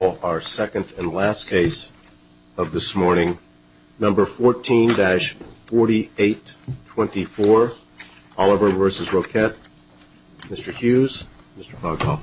Well, our second and last case of this morning, number 14-4824 Oliver versus Roquet, Mr. Hughes, Mr. Pogba.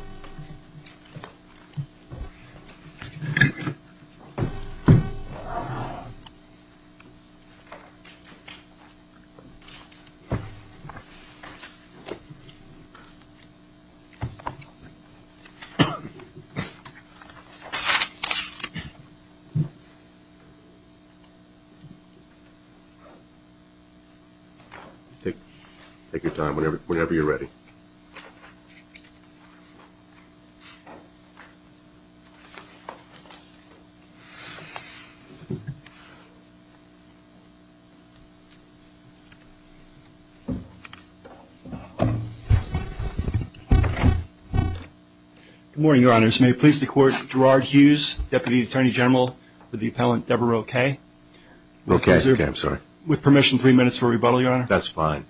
Take your time, whenever you're ready. Good morning, Your Honors. May it please the Court, Gerard Hughes, Deputy Attorney General for the Appellant Debra Roquet, with permission three minutes for rebuttal, Your Honor. That's fine.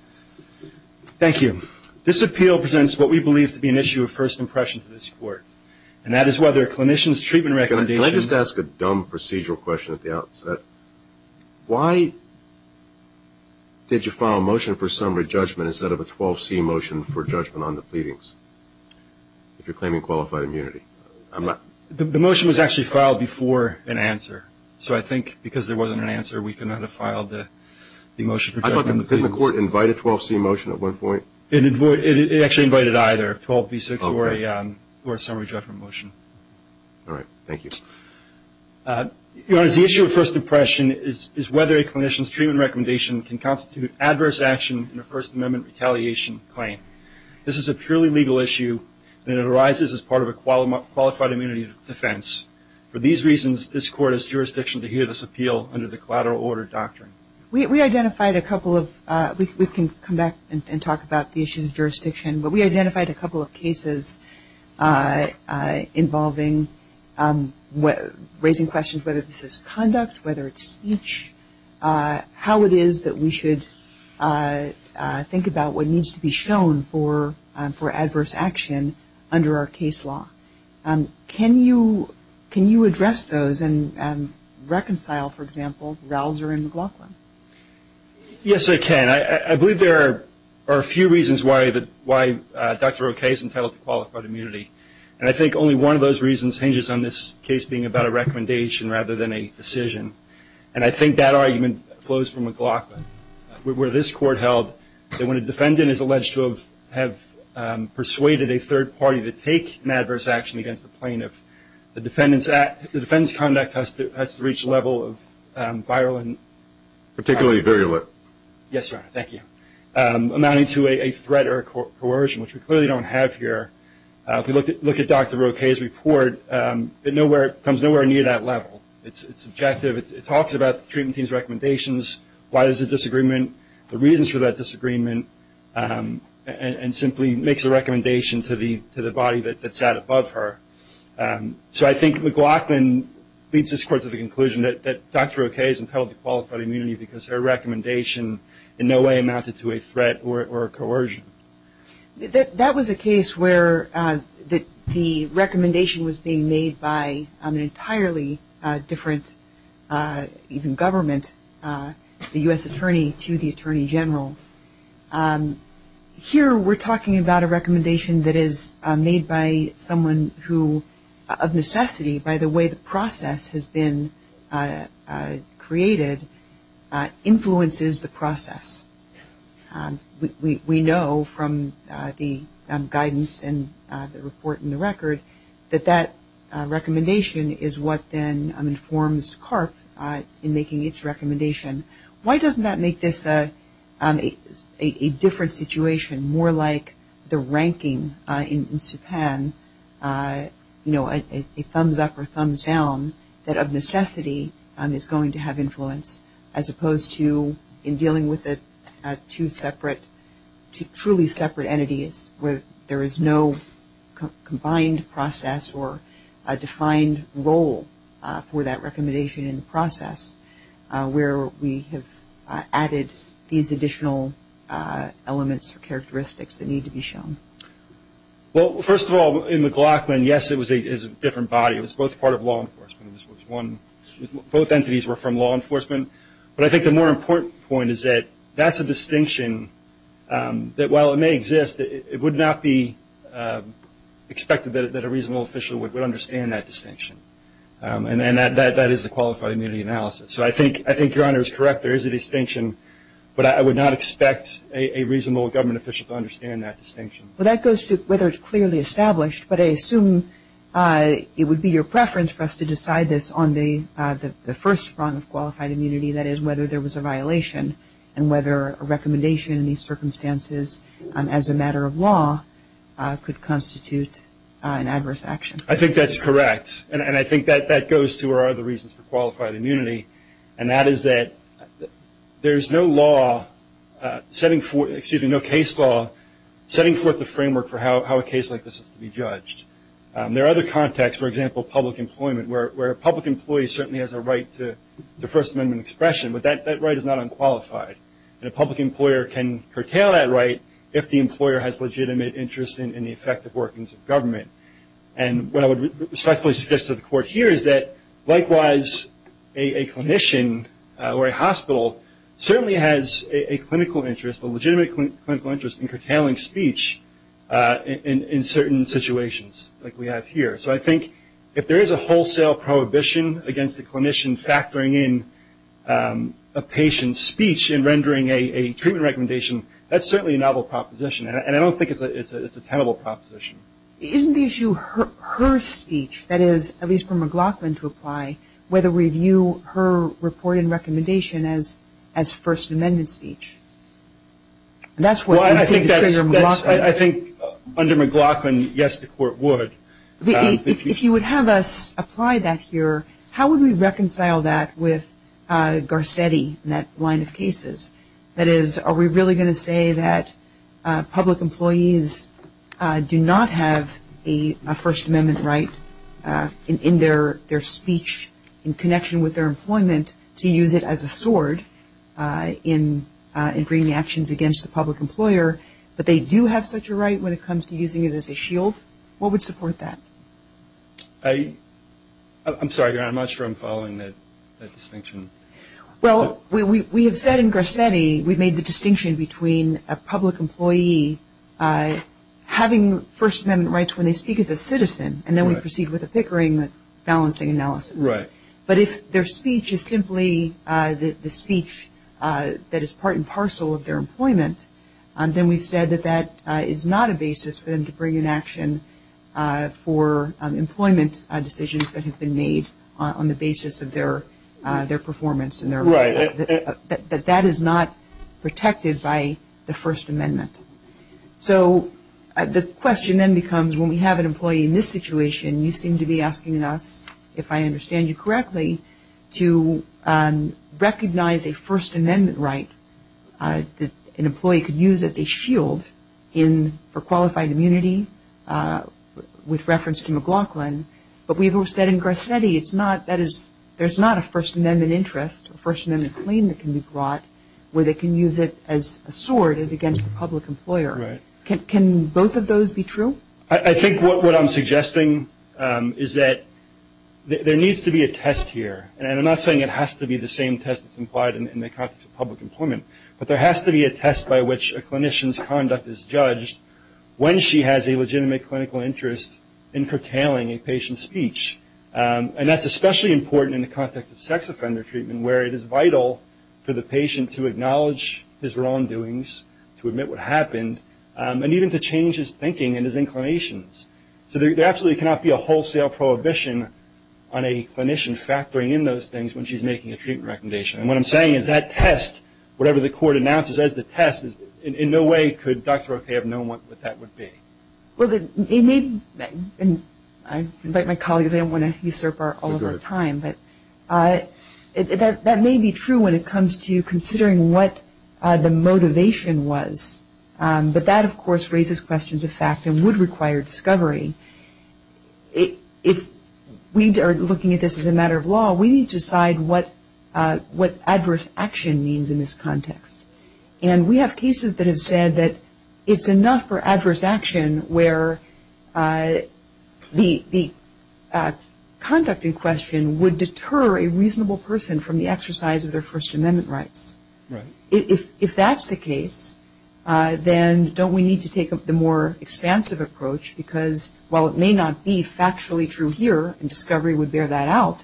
Thank you. This appeal presents what we believe to be an issue of first impression to this Court, and that is whether a clinician's treatment recommendation Can I just ask a dumb procedural question at the outset? Why did you file a motion for summary judgment instead of a 12C motion for judgment on the pleadings, if you're claiming qualified immunity? The motion was actually filed before an answer. So I think because there wasn't an answer, we could not have filed the motion for judgment. Did the Court invite a 12C motion at one point? It actually invited either, a 12B6 or a summary judgment motion. All right. Thank you. Your Honors, the issue of first impression is whether a clinician's treatment recommendation can constitute adverse action in a First Amendment retaliation claim. This is a purely legal issue, and it arises as part of a qualified immunity defense. For these reasons, this Court has jurisdiction to hear this appeal under the collateral order doctrine. We identified a couple of, we can come back and talk about the issue of jurisdiction, but we identified a couple of cases involving, raising questions whether this is conduct, whether it's speech, how it is that we should think about what needs to be shown for adverse action under our case law. Can you address those and reconcile, for example, Rausser and McLaughlin? Yes, I can. I believe there are a few reasons why Dr. Roquet is entitled to qualified immunity, and I think only one of those reasons hinges on this case being about a recommendation rather than a decision. And I think that argument flows from McLaughlin, where this Court held that when a defendant is alleged to have persuaded a third party to take an adverse action against the plaintiff, the defendant's conduct has to reach a level of viral and- Particularly virulent. Yes, Your Honor. Thank you. Amounting to a threat or coercion, which we clearly don't have here. If we look at Dr. Roquet's report, it comes nowhere near that level. It's subjective. It talks about the treatment team's recommendations, why there's a disagreement, the reasons for that disagreement, and simply makes a recommendation to the body that sat above her. So I think McLaughlin leads this Court to the conclusion that Dr. Roquet is entitled to qualified immunity because her recommendation in no way amounted to a threat or coercion. That was a case where the recommendation was being made by an entirely different, even government, the U.S. Attorney to the Attorney General. Here we're talking about a recommendation that is made by someone who, of necessity, by the way the process has been created, influences the process. We know from the guidance and the report in the record that that recommendation is what then informs CARP in making its recommendation. Why doesn't that make this a different situation, more like the ranking in SUPAN, you know, a thumbs up or thumbs down that of necessity is going to have influence, as opposed to in dealing with the two separate, two truly separate entities where there is no combined process or a defined role for that recommendation in the process, where we have added these additional elements or characteristics that need to be shown? Well, first of all, in McLaughlin, yes, it was a different body. It was both part of law enforcement. Both entities were from law enforcement. But I think the more important point is that that's a distinction that while it may exist, it would not be expected that a reasonable official would understand that distinction. And that is the qualified immunity analysis. So I think your Honor is correct. There is a distinction, but I would not expect a reasonable government official to understand that distinction. Well, that goes to whether it's clearly established, but I assume it would be your preference for us to decide this on the first prong of qualified immunity, that is whether there was a violation and whether a recommendation in these circumstances, as a matter of law, could constitute an adverse action. I think that's correct. And I think that that goes to our other reasons for qualified immunity, There are other contexts, for example, public employment, where a public employee certainly has a right to First Amendment expression, but that right is not unqualified. And a public employer can curtail that right if the employer has legitimate interest in the effective workings of government. And what I would respectfully suggest to the Court here is that, likewise, a clinician or a hospital certainly has a clinical interest, a legitimate clinical interest in curtailing speech in certain situations like we have here. So I think if there is a wholesale prohibition against a clinician factoring in a patient's speech and rendering a treatment recommendation, that's certainly a novel proposition. And I don't think it's a tenable proposition. Isn't the issue her speech, that is, at least for McLaughlin to apply, whether we view her report and recommendation as First Amendment speech? I think under McLaughlin, yes, the Court would. If you would have us apply that here, how would we reconcile that with Garcetti and that line of cases? That is, are we really going to say that public employees do not have a First Amendment right in their speech in connection with their employment to use it as a sword in bringing actions against the public employer, but they do have such a right when it comes to using it as a shield? What would support that? I'm sorry, Your Honor, I'm not sure I'm following that distinction. Well, we have said in Garcetti we've made the distinction between a public employee having First Amendment rights when they speak as a citizen, and then we proceed with a Pickering balancing analysis. Right. But if their speech is simply the speech that is part and parcel of their employment, then we've said that that is not a basis for them to bring in action for employment decisions that have been made on the basis of their performance and their right. Right. That that is not protected by the First Amendment. So the question then becomes when we have an employee in this situation, you seem to be asking us, if I understand you correctly, to recognize a First Amendment right that an employee could use as a shield for qualified immunity with reference to McLaughlin. But we've said in Garcetti it's not, that is, there's not a First Amendment interest, a First Amendment claim that can be brought where they can use it as a sword against a public employer. Right. Can both of those be true? I think what I'm suggesting is that there needs to be a test here, and I'm not saying it has to be the same test that's implied in the context of public employment, but there has to be a test by which a clinician's conduct is judged when she has a legitimate clinical interest in curtailing a patient's speech. And that's especially important in the context of sex offender treatment where it is vital for the patient to acknowledge his wrongdoings, to admit what happened, and even to change his thinking and his inclinations. So there absolutely cannot be a wholesale prohibition on a clinician factoring in those things when she's making a treatment recommendation. And what I'm saying is that test, whatever the court announces as the test, in no way could Dr. Roque have known what that would be. I invite my colleagues, I don't want to usurp all of their time, but that may be true when it comes to considering what the motivation was. But that, of course, raises questions of fact and would require discovery. If we are looking at this as a matter of law, we need to decide what adverse action means in this context. And we have cases that have said that it's enough for adverse action where the conduct in question would deter a reasonable person from the exercise of their First Amendment rights. If that's the case, then don't we need to take the more expansive approach because while it may not be factually true here, and discovery would bear that out,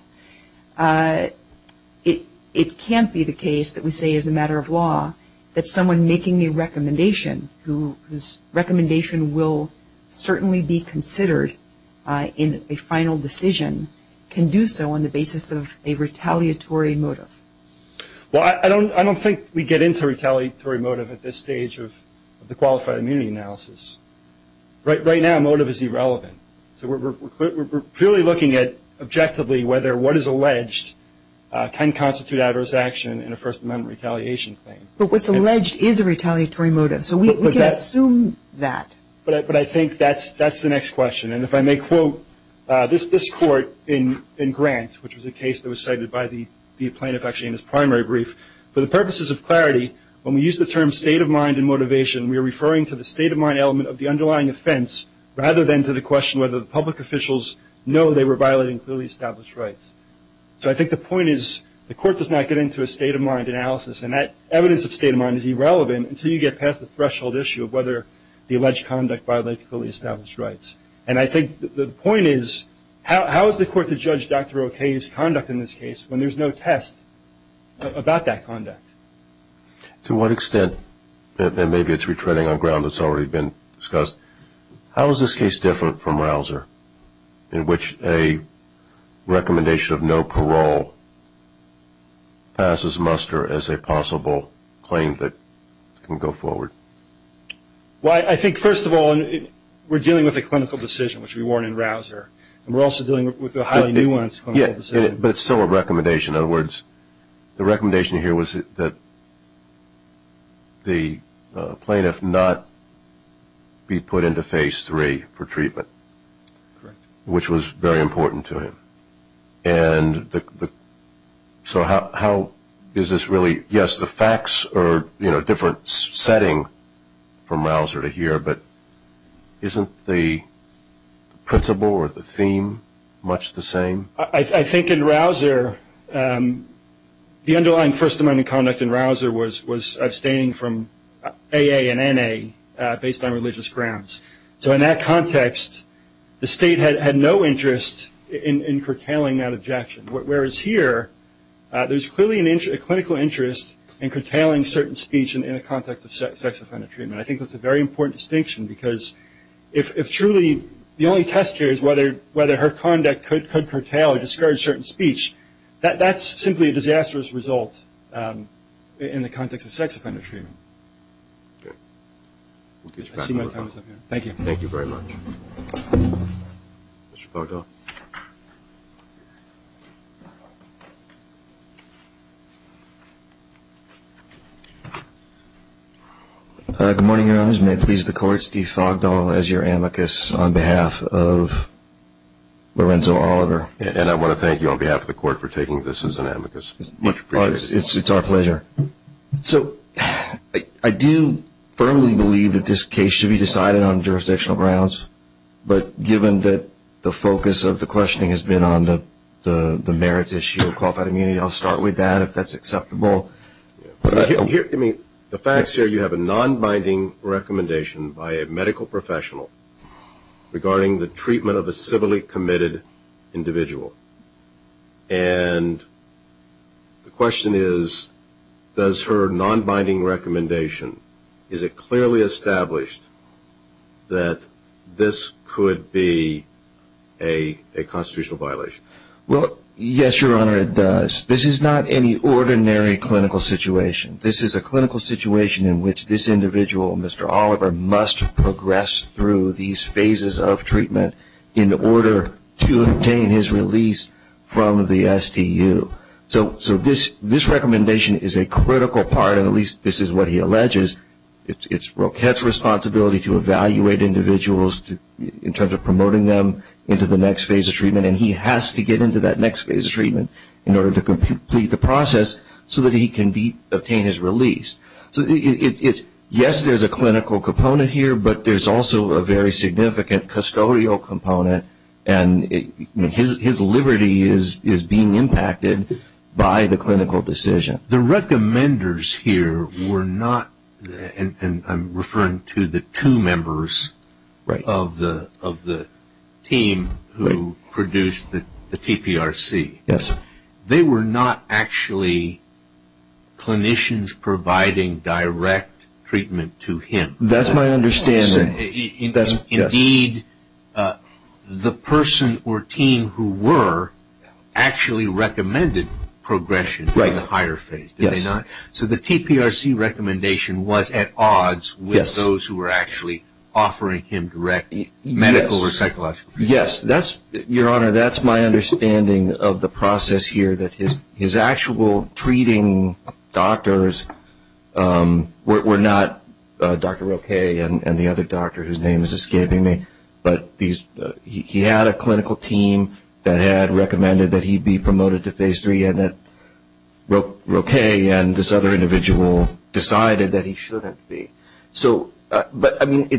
it can't be the case that we say as a matter of law that someone making a recommendation whose recommendation will certainly be considered in a final decision can do so on the basis of a retaliatory motive. Well, I don't think we get into retaliatory motive at this stage of the qualified immunity analysis. Right now, motive is irrelevant. So we're purely looking at objectively whether what is alleged can constitute adverse action in a First Amendment retaliation claim. But what's alleged is a retaliatory motive, so we can assume that. But I think that's the next question. And if I may quote this court in Grant, which was a case that was cited by the plaintiff actually in his primary brief, for the purposes of clarity, when we use the term state of mind and motivation, we are referring to the state of mind element of the underlying offense rather than to the question whether the public officials know they were violating clearly established rights. So I think the point is the court does not get into a state of mind analysis, and that evidence of state of mind is irrelevant until you get past the threshold issue of whether the alleged conduct violates clearly established rights. And I think the point is how is the court to judge Dr. O'Keefe's conduct in this case when there's no test about that conduct? To what extent, and maybe it's retreading on ground that's already been discussed, how is this case different from Rausser in which a recommendation of no parole passes muster as a possible claim that can go forward? Well, I think, first of all, we're dealing with a clinical decision, which we warn in Rausser, and we're also dealing with a highly nuanced clinical decision. But it's still a recommendation. In other words, the recommendation here was that the plaintiff not be put into Phase 3 for treatment, which was very important to him. And so how is this really? Yes, the facts are a different setting from Rausser to here, but isn't the principle or the theme much the same? I think in Rausser, the underlying First Amendment conduct in Rausser was abstaining from AA and NA based on religious grounds. So in that context, the state had no interest in curtailing that objection, whereas here there's clearly a clinical interest in curtailing certain speech in the context of sex-offended treatment. I think that's a very important distinction because if truly the only test here is whether her conduct could curtail or discourage certain speech, that's simply a disastrous result in the context of sex-offended treatment. I see my time is up here. Thank you. Thank you very much. Mr. Fogdahl. Good morning, Your Honors. May it please the Court, Steve Fogdahl as your amicus on behalf of Lorenzo Oliver. And I want to thank you on behalf of the Court for taking this as an amicus. Much appreciated. It's our pleasure. So I do firmly believe that this case should be decided on jurisdictional grounds, but given that the focus of the questioning has been on the merits issue of qualified immunity, I'll start with that if that's acceptable. The facts here, you have a nonbinding recommendation by a medical professional regarding the treatment of a civilly committed individual. And the question is, does her nonbinding recommendation, is it clearly established that this could be a constitutional violation? Well, yes, Your Honor, it does. This is not any ordinary clinical situation. This is a clinical situation in which this individual, Mr. Oliver, must progress through these phases of treatment in order to obtain his release from the STU. So this recommendation is a critical part, and at least this is what he alleges. It's Roquette's responsibility to evaluate individuals in terms of promoting them into the next phase of treatment, and he has to get into that next phase of treatment in order to complete the process so that he can obtain his release. So yes, there's a clinical component here, but there's also a very significant custodial component, and his liberty is being impacted by the clinical decision. The recommenders here were not, and I'm referring to the two members of the team who produced the TPRC. Yes. They were not actually clinicians providing direct treatment to him. That's my understanding. Indeed, the person or team who were actually recommended progression to the higher phase, did they not? Yes. So the TPRC recommendation was at odds with those who were actually offering him direct medical or psychological treatment. Yes. Your Honor, that's my understanding of the process here, that his actual treating doctors were not Dr. Roquette and the other doctor whose name is escaping me, but he had a clinical team that had recommended that he be promoted to phase three, and that Roquette and this other individual decided that he shouldn't be. But, I mean,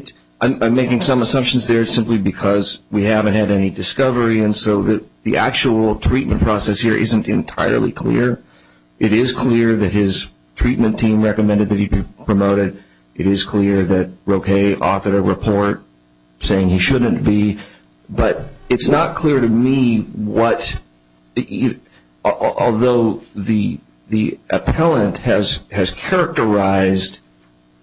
I'm making some assumptions there simply because we haven't had any discovery, and so the actual treatment process here isn't entirely clear. It is clear that his treatment team recommended that he be promoted. It is clear that Roquette authored a report saying he shouldn't be. But it's not clear to me what, although the appellant has characterized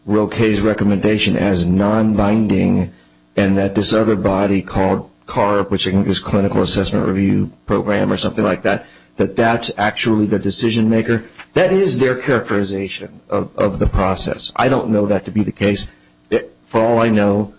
Roquette's recommendation as non-binding and that this other body called CARB, which is Clinical Assessment Review Program or something like that, that that's actually the decision maker. That is their characterization of the process. I don't know that to be the case. For all I know,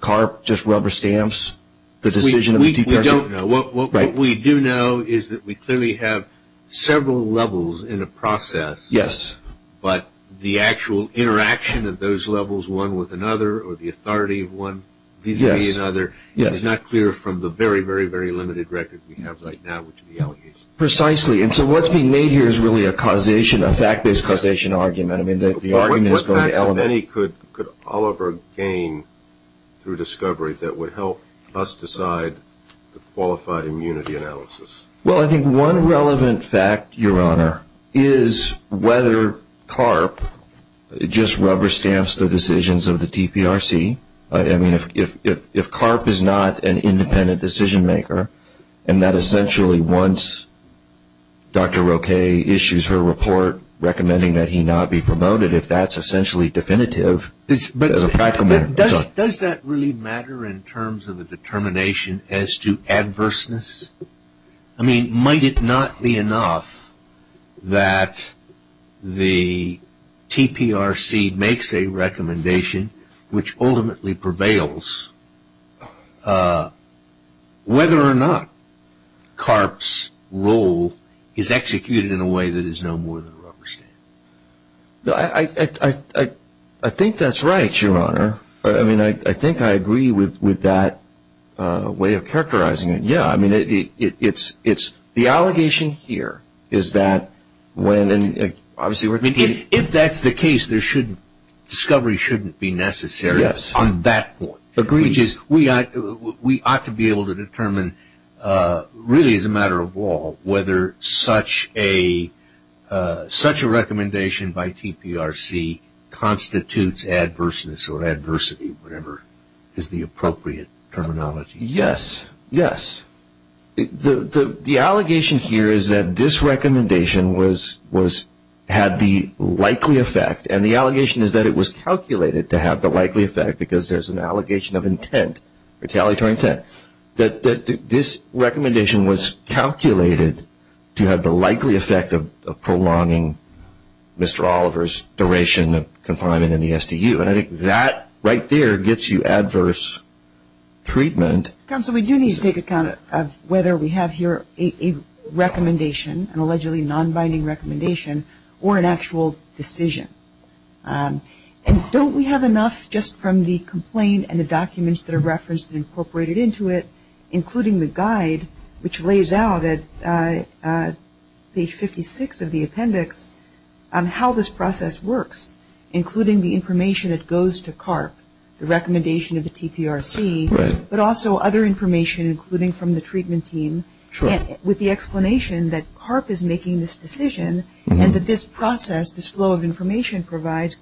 CARB just rubber stamps the decision of the TPRC. We don't know. What we do know is that we clearly have several levels in a process. Yes. But the actual interaction of those levels, one with another, or the authority of one vis-a-vis another, is not clear from the very, very, very limited record we have right now, which is the allegations. Precisely. And so what's being made here is really a causation, a fact-based causation argument. I mean, the argument is going to elevate. What facts, if any, could Oliver gain through discovery that would help us decide the qualified immunity analysis? Well, I think one relevant fact, Your Honor, is whether CARB just rubber stamps the decisions of the TPRC. I mean, if CARB is not an independent decision maker and that essentially once Dr. Roque issues her report recommending that he not be promoted, if that's essentially definitive as a practical matter. Does that really matter in terms of the determination as to adverseness? I mean, might it not be enough that the TPRC makes a recommendation which ultimately prevails, whether or not CARB's role is executed in a way that is no more than a rubber stamp? I think that's right, Your Honor. I mean, I think I agree with that way of characterizing it. Yeah. I mean, the allegation here is that when – If that's the case, discovery shouldn't be necessary on that point. Agreed. We ought to be able to determine, really as a matter of law, whether such a recommendation by TPRC constitutes adverseness or adversity, whatever is the appropriate terminology. Yes, yes. The allegation here is that this recommendation had the likely effect, and the allegation is that it was calculated to have the likely effect because there's an allegation of intent, retaliatory intent, that this recommendation was calculated to have the likely effect of prolonging Mr. Oliver's duration of confinement in the SDU. And I think that right there gets you adverse treatment. Counsel, we do need to take account of whether we have here a recommendation, an allegedly non-binding recommendation, or an actual decision. And don't we have enough just from the complaint and the documents that are referenced and incorporated into it, including the guide which lays out at page 56 of the appendix, how this process works, including the information that goes to CARP, the recommendation of the TPRC, but also other information, including from the treatment team, with the explanation that CARP is making this decision, and that this process, this flow of information, provides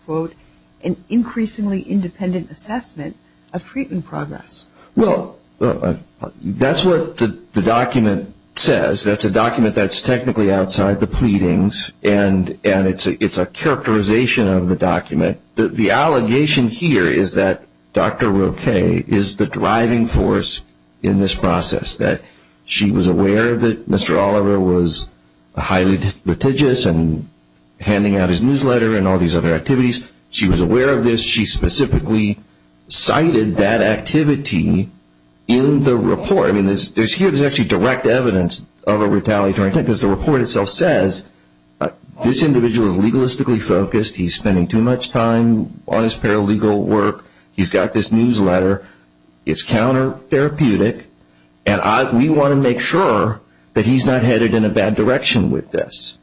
an increasingly independent assessment of treatment progress. Well, that's what the document says. That's a document that's technically outside the pleadings, and it's a characterization of the document. The allegation here is that Dr. Roque is the driving force in this process, that she was aware that Mr. Oliver was highly litigious and handing out his newsletter and all these other activities. She was aware of this. She specifically cited that activity in the report. I mean, here there's actually direct evidence of a retaliatory intent, because the report itself says this individual is legalistically focused. He's spending too much time on his paralegal work. He's got this newsletter. It's counter-therapeutic, and we want to make sure that he's not headed in a bad direction with this.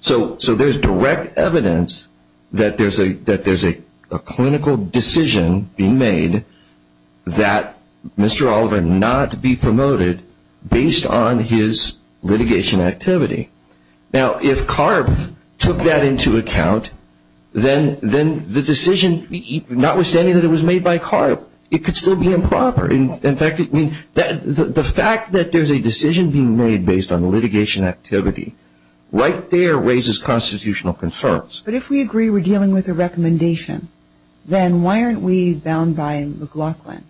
So there's direct evidence that there's a clinical decision being made that Mr. Oliver not be promoted based on his litigation activity. Now, if CARP took that into account, then the decision, notwithstanding that it was made by CARP, it could still be improper. In fact, the fact that there's a decision being made based on litigation activity, right there raises constitutional concerns. But if we agree we're dealing with a recommendation, then why aren't we bound by McLaughlin,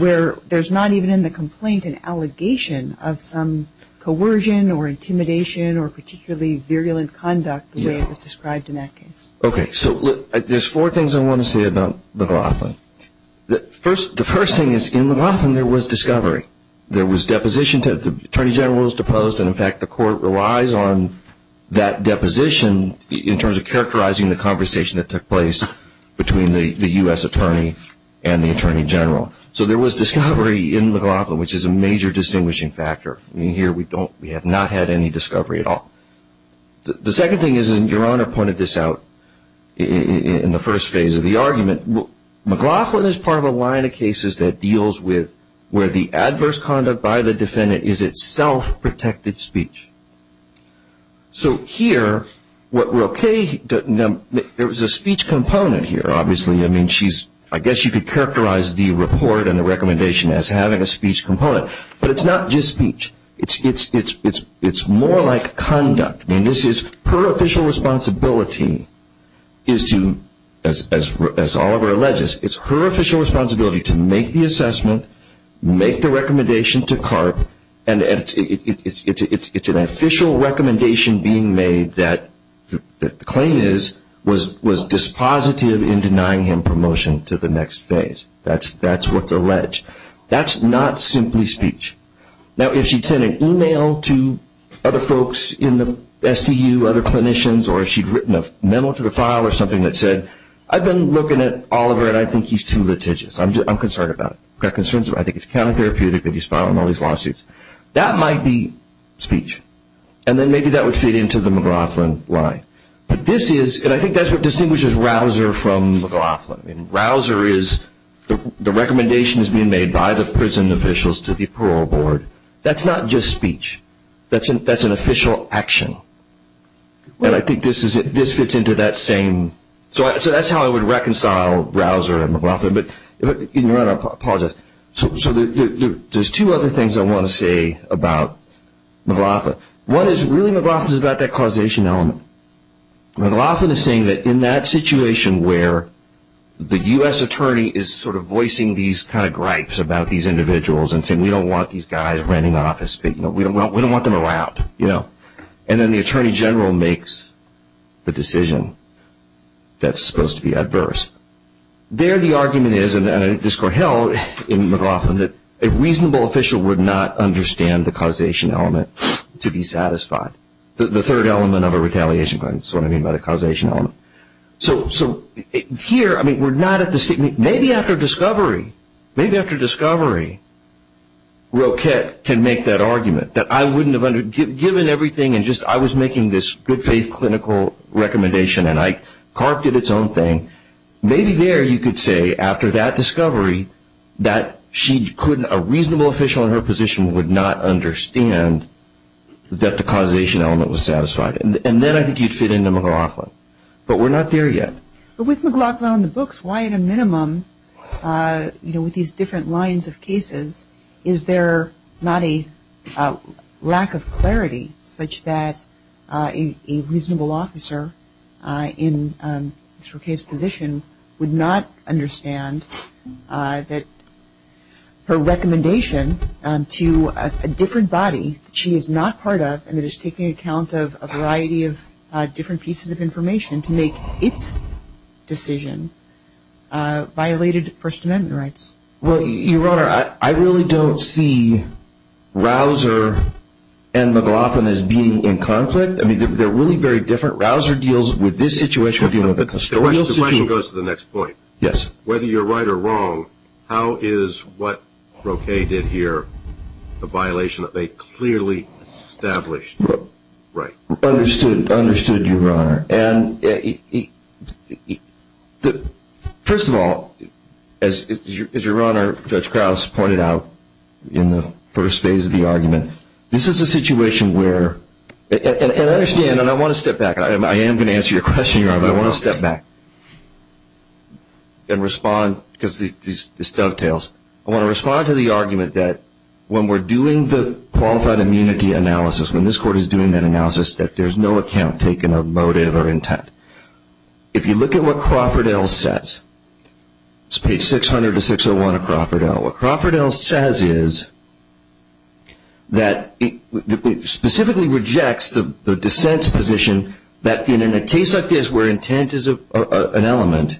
where there's not even in the complaint an allegation of some coercion or intimidation or particularly virulent conduct the way it was described in that case? Okay. So there's four things I want to say about McLaughlin. The first thing is in McLaughlin there was discovery. There was deposition. The Attorney General was deposed, and, in fact, the Court relies on that deposition in terms of characterizing the conversation that took place between the U.S. Attorney and the Attorney General. So there was discovery in McLaughlin, which is a major distinguishing factor. I mean, here we have not had any discovery at all. The second thing is, and Your Honor pointed this out in the first phase of the argument, McLaughlin is part of a line of cases that deals with where the adverse conduct by the defendant is itself protected speech. So here, what we're okay, there was a speech component here, obviously. I mean, I guess you could characterize the report and the recommendation as having a speech component, but it's not just speech. It's more like conduct. I mean, this is her official responsibility is to, as Oliver alleges, it's her official responsibility to make the assessment, make the recommendation to CARP, and it's an official recommendation being made that the claim is was dispositive in denying him promotion to the next phase. That's what's alleged. That's not simply speech. Now, if she'd sent an email to other folks in the SDU, other clinicians, or she'd written a memo to the file or something that said, I've been looking at Oliver and I think he's too litigious. I'm concerned about it. I think it's counter-therapeutic that he's filing all these lawsuits. That might be speech. And then maybe that would fit into the McLaughlin line. But this is, and I think that's what distinguishes Rausser from McLaughlin. Rausser is the recommendation is being made by the prison officials to the parole board. That's not just speech. That's an official action. And I think this fits into that same. So that's how I would reconcile Rausser and McLaughlin. But in your honor, I apologize. So there's two other things I want to say about McLaughlin. One is really McLaughlin is about that causation element. McLaughlin is saying that in that situation where the U.S. attorney is sort of voicing these kind of gripes about these individuals and saying we don't want these guys renting an office, we don't want them around, you know, and then the attorney general makes the decision that's supposed to be adverse. There the argument is, and I discourt hell in McLaughlin, that a reasonable official would not understand the causation element to be satisfied. The third element of a retaliation claim. That's what I mean by the causation element. So here, I mean, we're not at the statement. Maybe after discovery, maybe after discovery Roquette can make that argument that I wouldn't have given everything and just I was making this good faith clinical recommendation and I carved it its own thing. Maybe there you could say after that discovery that she couldn't, that a reasonable official in her position would not understand that the causation element was satisfied. And then I think you'd fit into McLaughlin. But we're not there yet. But with McLaughlin on the books, why at a minimum, you know, with these different lines of cases, is there not a lack of clarity such that a reasonable officer in Roquette's position would not understand that her recommendation to a different body that she is not part of and that is taking account of a variety of different pieces of information to make its decision violated First Amendment rights? Well, Your Honor, I really don't see Rausser and McLaughlin as being in conflict. I mean, they're really very different. Rausser deals with this situation. The question goes to the next point. Yes. Whether you're right or wrong, how is what Roquette did here a violation that they clearly established? Right. Understood. Understood, Your Honor. First of all, as Your Honor, Judge Krauss pointed out in the first phase of the argument, this is a situation where, and I understand and I want to step back. I am going to answer your question, Your Honor, but I want to step back and respond because this dovetails. I want to respond to the argument that when we're doing the qualified immunity analysis, when this Court is doing that analysis, that there's no account taken of motive or intent. If you look at what Crawford L. says, it's page 600 to 601 of Crawford L. What Crawford L. says is that it specifically rejects the dissent's position that in a case like this where intent is an element,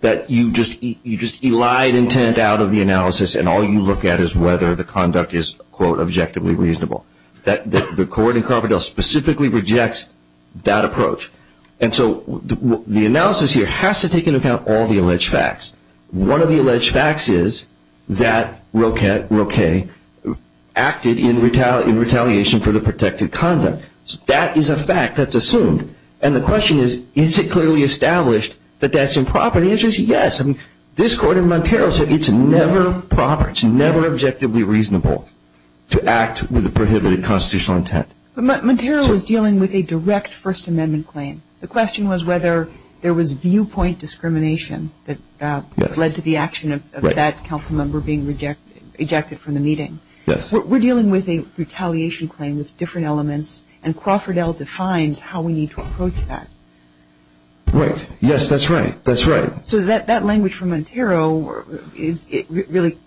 that you just elide intent out of the analysis and all you look at is whether the conduct is, quote, objectively reasonable. The Court in Crawford L. specifically rejects that approach. And so the analysis here has to take into account all the alleged facts. One of the alleged facts is that Roquet acted in retaliation for the protected conduct. That is a fact that's assumed. And the question is, is it clearly established that that's improper? The answer is yes. This Court in Montero said it's never proper, it's never objectively reasonable to act with a prohibited constitutional intent. But Montero was dealing with a direct First Amendment claim. The question was whether there was viewpoint discrimination that led to the action of that council member being rejected from the meeting. Yes. We're dealing with a retaliation claim with different elements, and Crawford L. defines how we need to approach that. Right. Yes, that's right. That's right. So that language from Montero really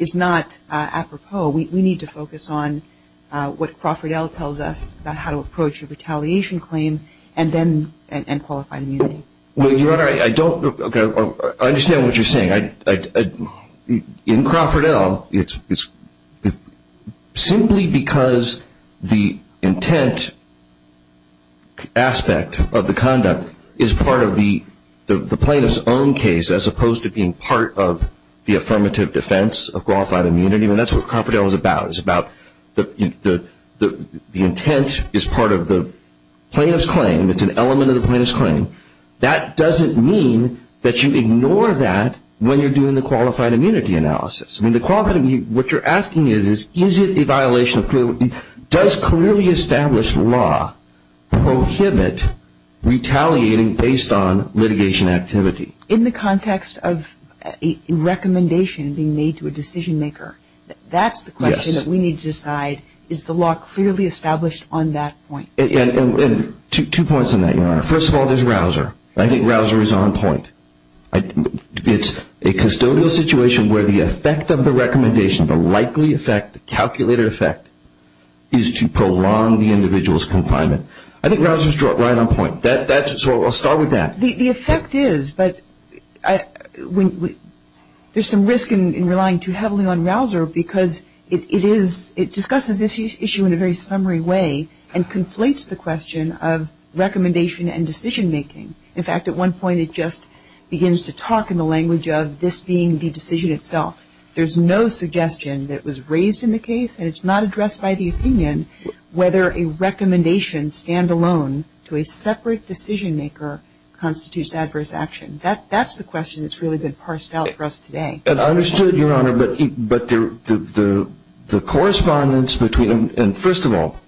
is not apropos. We need to focus on what Crawford L. tells us about how to approach a retaliation claim and qualified immunity. Well, Your Honor, I don't understand what you're saying. In Crawford L., it's simply because the intent aspect of the conduct is part of the plaintiff's own case as opposed to being part of the affirmative defense of qualified immunity. And that's what Crawford L. is about. It's about the intent is part of the plaintiff's claim. It's an element of the plaintiff's claim. That doesn't mean that you ignore that when you're doing the qualified immunity analysis. I mean, the qualified immunity, what you're asking is, is it a violation of clearly established law prohibit retaliating based on litigation activity? In the context of a recommendation being made to a decision maker, that's the question that we need to decide. Is the law clearly established on that point? Two points on that, Your Honor. First of all, there's Rausser. I think Rausser is on point. It's a custodial situation where the effect of the recommendation, the likely effect, the calculated effect, is to prolong the individual's confinement. I think Rausser is right on point. So I'll start with that. The effect is, but there's some risk in relying too heavily on Rausser because it is, it discusses this issue in a very summary way and conflates the question of recommendation and decision making. In fact, at one point it just begins to talk in the language of this being the decision itself. There's no suggestion that was raised in the case, and it's not addressed by the opinion whether a recommendation stand alone to a separate decision maker constitutes adverse action. That's the question that's really been parsed out for us today. And I understood, Your Honor, but the correspondence between, and first of all,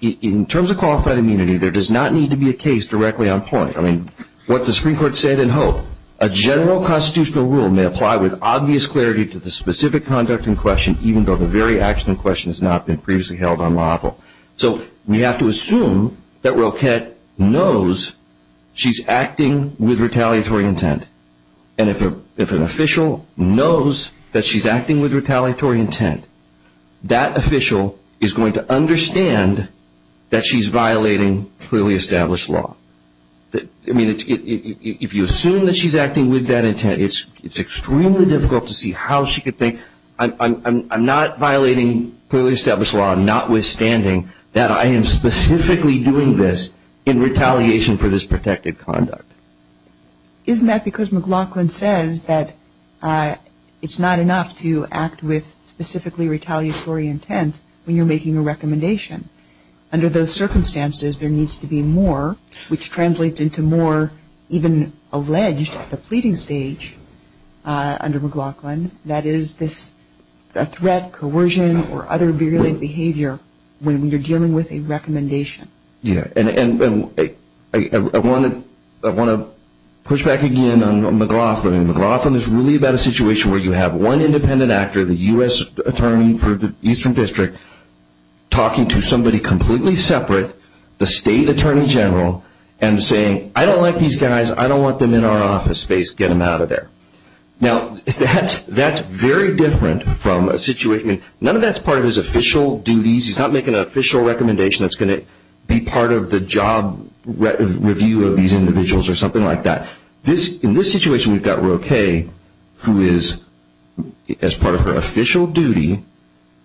in terms of qualified immunity, there does not need to be a case directly on point. I mean, what the Supreme Court said in Hope, a general constitutional rule may apply with obvious clarity to the specific conduct in question, even though the very action in question has not been previously held unlawful. So we have to assume that Roquette knows she's acting with retaliatory intent. And if an official knows that she's acting with retaliatory intent, that official is going to understand that she's violating clearly established law. I mean, if you assume that she's acting with that intent, it's extremely difficult to see how she could think, I'm not violating clearly established law, notwithstanding that I am specifically doing this in retaliation for this protected conduct. Isn't that because McLaughlin says that it's not enough to act with specifically retaliatory intent when you're making a recommendation? Under those circumstances, there needs to be more, which translates into more even alleged at the pleading stage under McLaughlin, that is this threat, coercion, or other virulent behavior when you're dealing with a recommendation. Yeah. And I want to push back again on McLaughlin. McLaughlin is really about a situation where you have one independent actor, the U.S. Attorney for the Eastern District, talking to somebody completely separate, the State Attorney General, and saying, I don't like these guys. I don't want them in our office space. Get them out of there. Now, that's very different from a situation. None of that's part of his official duties. He's not making an official recommendation that's going to be part of the job review of these individuals or something like that. In this situation, we've got Roe K., who is, as part of her official duty,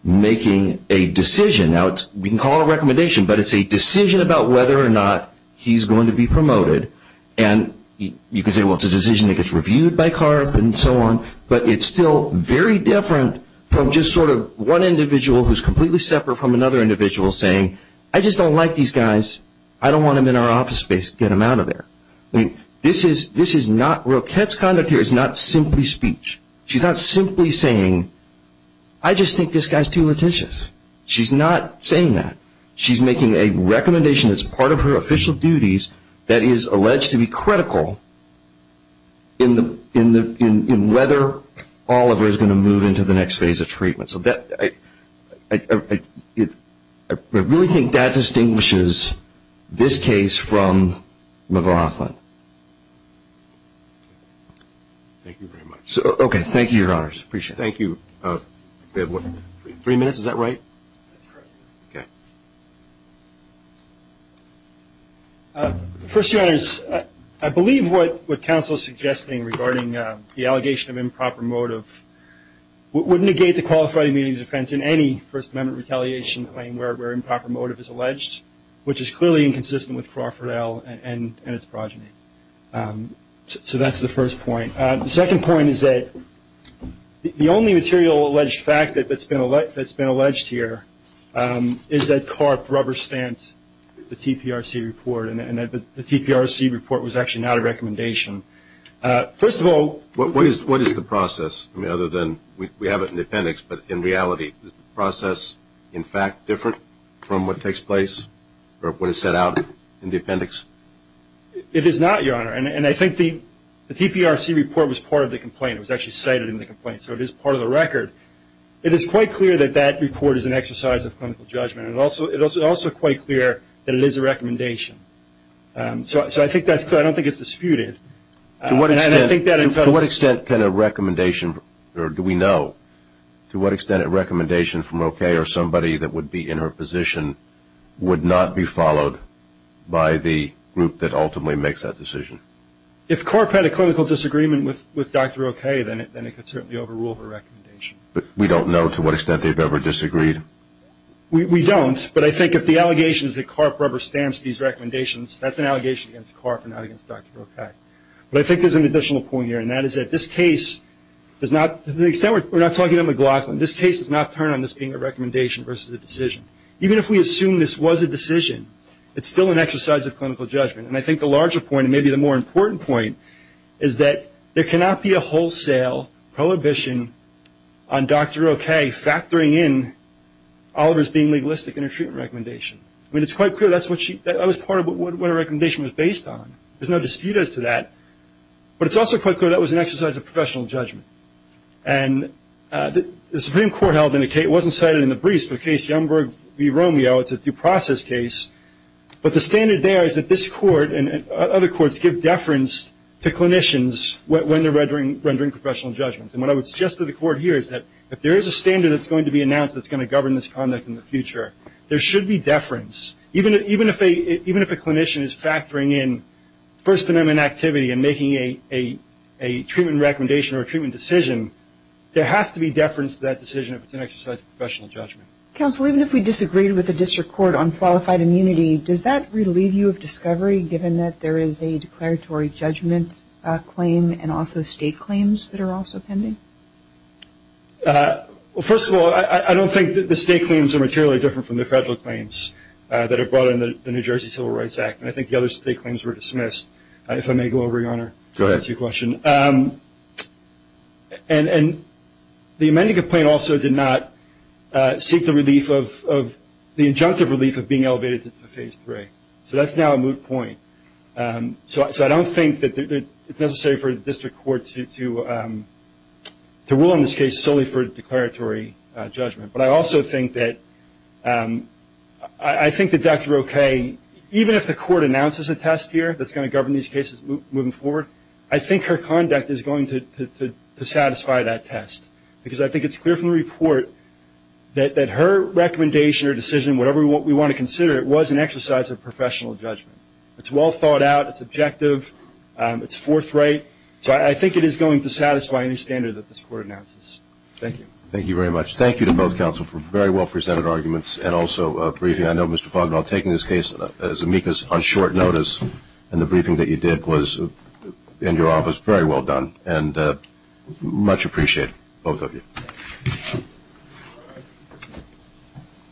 making a decision. Now, we can call it a recommendation, but it's a decision about whether or not he's going to be promoted. And you can say, well, it's a decision that gets reviewed by CARB and so on, but it's still very different from just sort of one individual who's completely separate from another individual saying, I just don't like these guys. I don't want them in our office space. Get them out of there. This is not Roe K.'s conduct here. It's not simply speech. She's not simply saying, I just think this guy's too lethicious. She's not saying that. She's making a recommendation that's part of her official duties that is alleged to be critical in whether Oliver is going to move into the next phase of treatment. So I really think that distinguishes this case from McLaughlin. Thank you very much. Okay, thank you, Your Honors. Appreciate it. Thank you. We have three minutes, is that right? That's correct. Okay. First, Your Honors, I believe what counsel is suggesting regarding the allegation of improper motive would negate the qualified immunity defense in any First Amendment retaliation claim where improper motive is alleged, which is clearly inconsistent with Crawford L. and its progeny. So that's the first point. The second point is that the only material alleged fact that's been alleged here is that Karp rubber-stamped the TPRC report, and that the TPRC report was actually not a recommendation. First of all. What is the process? I mean, other than we have it in the appendix, but in reality, is the process in fact different from what takes place or what is set out in the appendix? It is not, Your Honor. And I think the TPRC report was part of the complaint. It was actually cited in the complaint, so it is part of the record. It is quite clear that that report is an exercise of clinical judgment. It is also quite clear that it is a recommendation. So I think that's clear. I don't think it's disputed. To what extent can a recommendation, or do we know to what extent a recommendation from O.K. or somebody that would be in her position would not be followed by the group that ultimately makes that decision? If Karp had a clinical disagreement with Dr. O.K., then it could certainly overrule her recommendation. But we don't know to what extent they've ever disagreed? We don't. But I think if the allegation is that Karp rubber stamps these recommendations, that's an allegation against Karp and not against Dr. O.K. But I think there's an additional point here, and that is that this case does not, to the extent we're not talking to McLaughlin, this case does not turn on this being a recommendation versus a decision. Even if we assume this was a decision, it's still an exercise of clinical judgment. And I think the larger point, and maybe the more important point, is that there cannot be a wholesale prohibition on Dr. O.K. factoring in Oliver's being legalistic in her treatment recommendation. I mean, it's quite clear that's what she, that was part of what her recommendation was based on. There's no dispute as to that. But it's also quite clear that was an exercise of professional judgment. And the Supreme Court held in the case, it wasn't cited in the briefs, but the case Youngberg v. Romeo, it's a due process case. But the standard there is that this Court and other courts give deference to clinicians when they're rendering professional judgments. And what I would suggest to the Court here is that if there is a standard that's going to be announced that's going to govern this conduct in the future, there should be deference. Even if a clinician is factoring in First Amendment activity and making a treatment recommendation or a treatment decision, there has to be deference to that decision if it's an exercise of professional judgment. Counsel, even if we disagreed with the District Court on qualified immunity, does that relieve you of discovery given that there is a declaratory judgment claim and also state claims that are also pending? Well, first of all, I don't think that the state claims are materially different from the federal claims that are brought under the New Jersey Civil Rights Act. And I think the other state claims were dismissed. If I may go over, Your Honor, to answer your question. Go ahead. And the amended complaint also did not seek the injunctive relief of being elevated to Phase 3. So that's now a moot point. So I don't think that it's necessary for the District Court to rule on this case solely for declaratory judgment. But I also think that Dr. Roque, even if the court announces a test here that's going to govern these cases moving forward, I think her conduct is going to satisfy that test. Because I think it's clear from the report that her recommendation or decision, whatever we want to consider, it was an exercise of professional judgment. It's well thought out. It's objective. It's forthright. So I think it is going to satisfy any standard that this court announces. Thank you. Thank you very much. Thank you to both counsel for very well-presented arguments and also briefing. I know Mr. Fognerl, taking this case as amicus on short notice, and the briefing that you did was in your office, very well done. And much appreciated, both of you.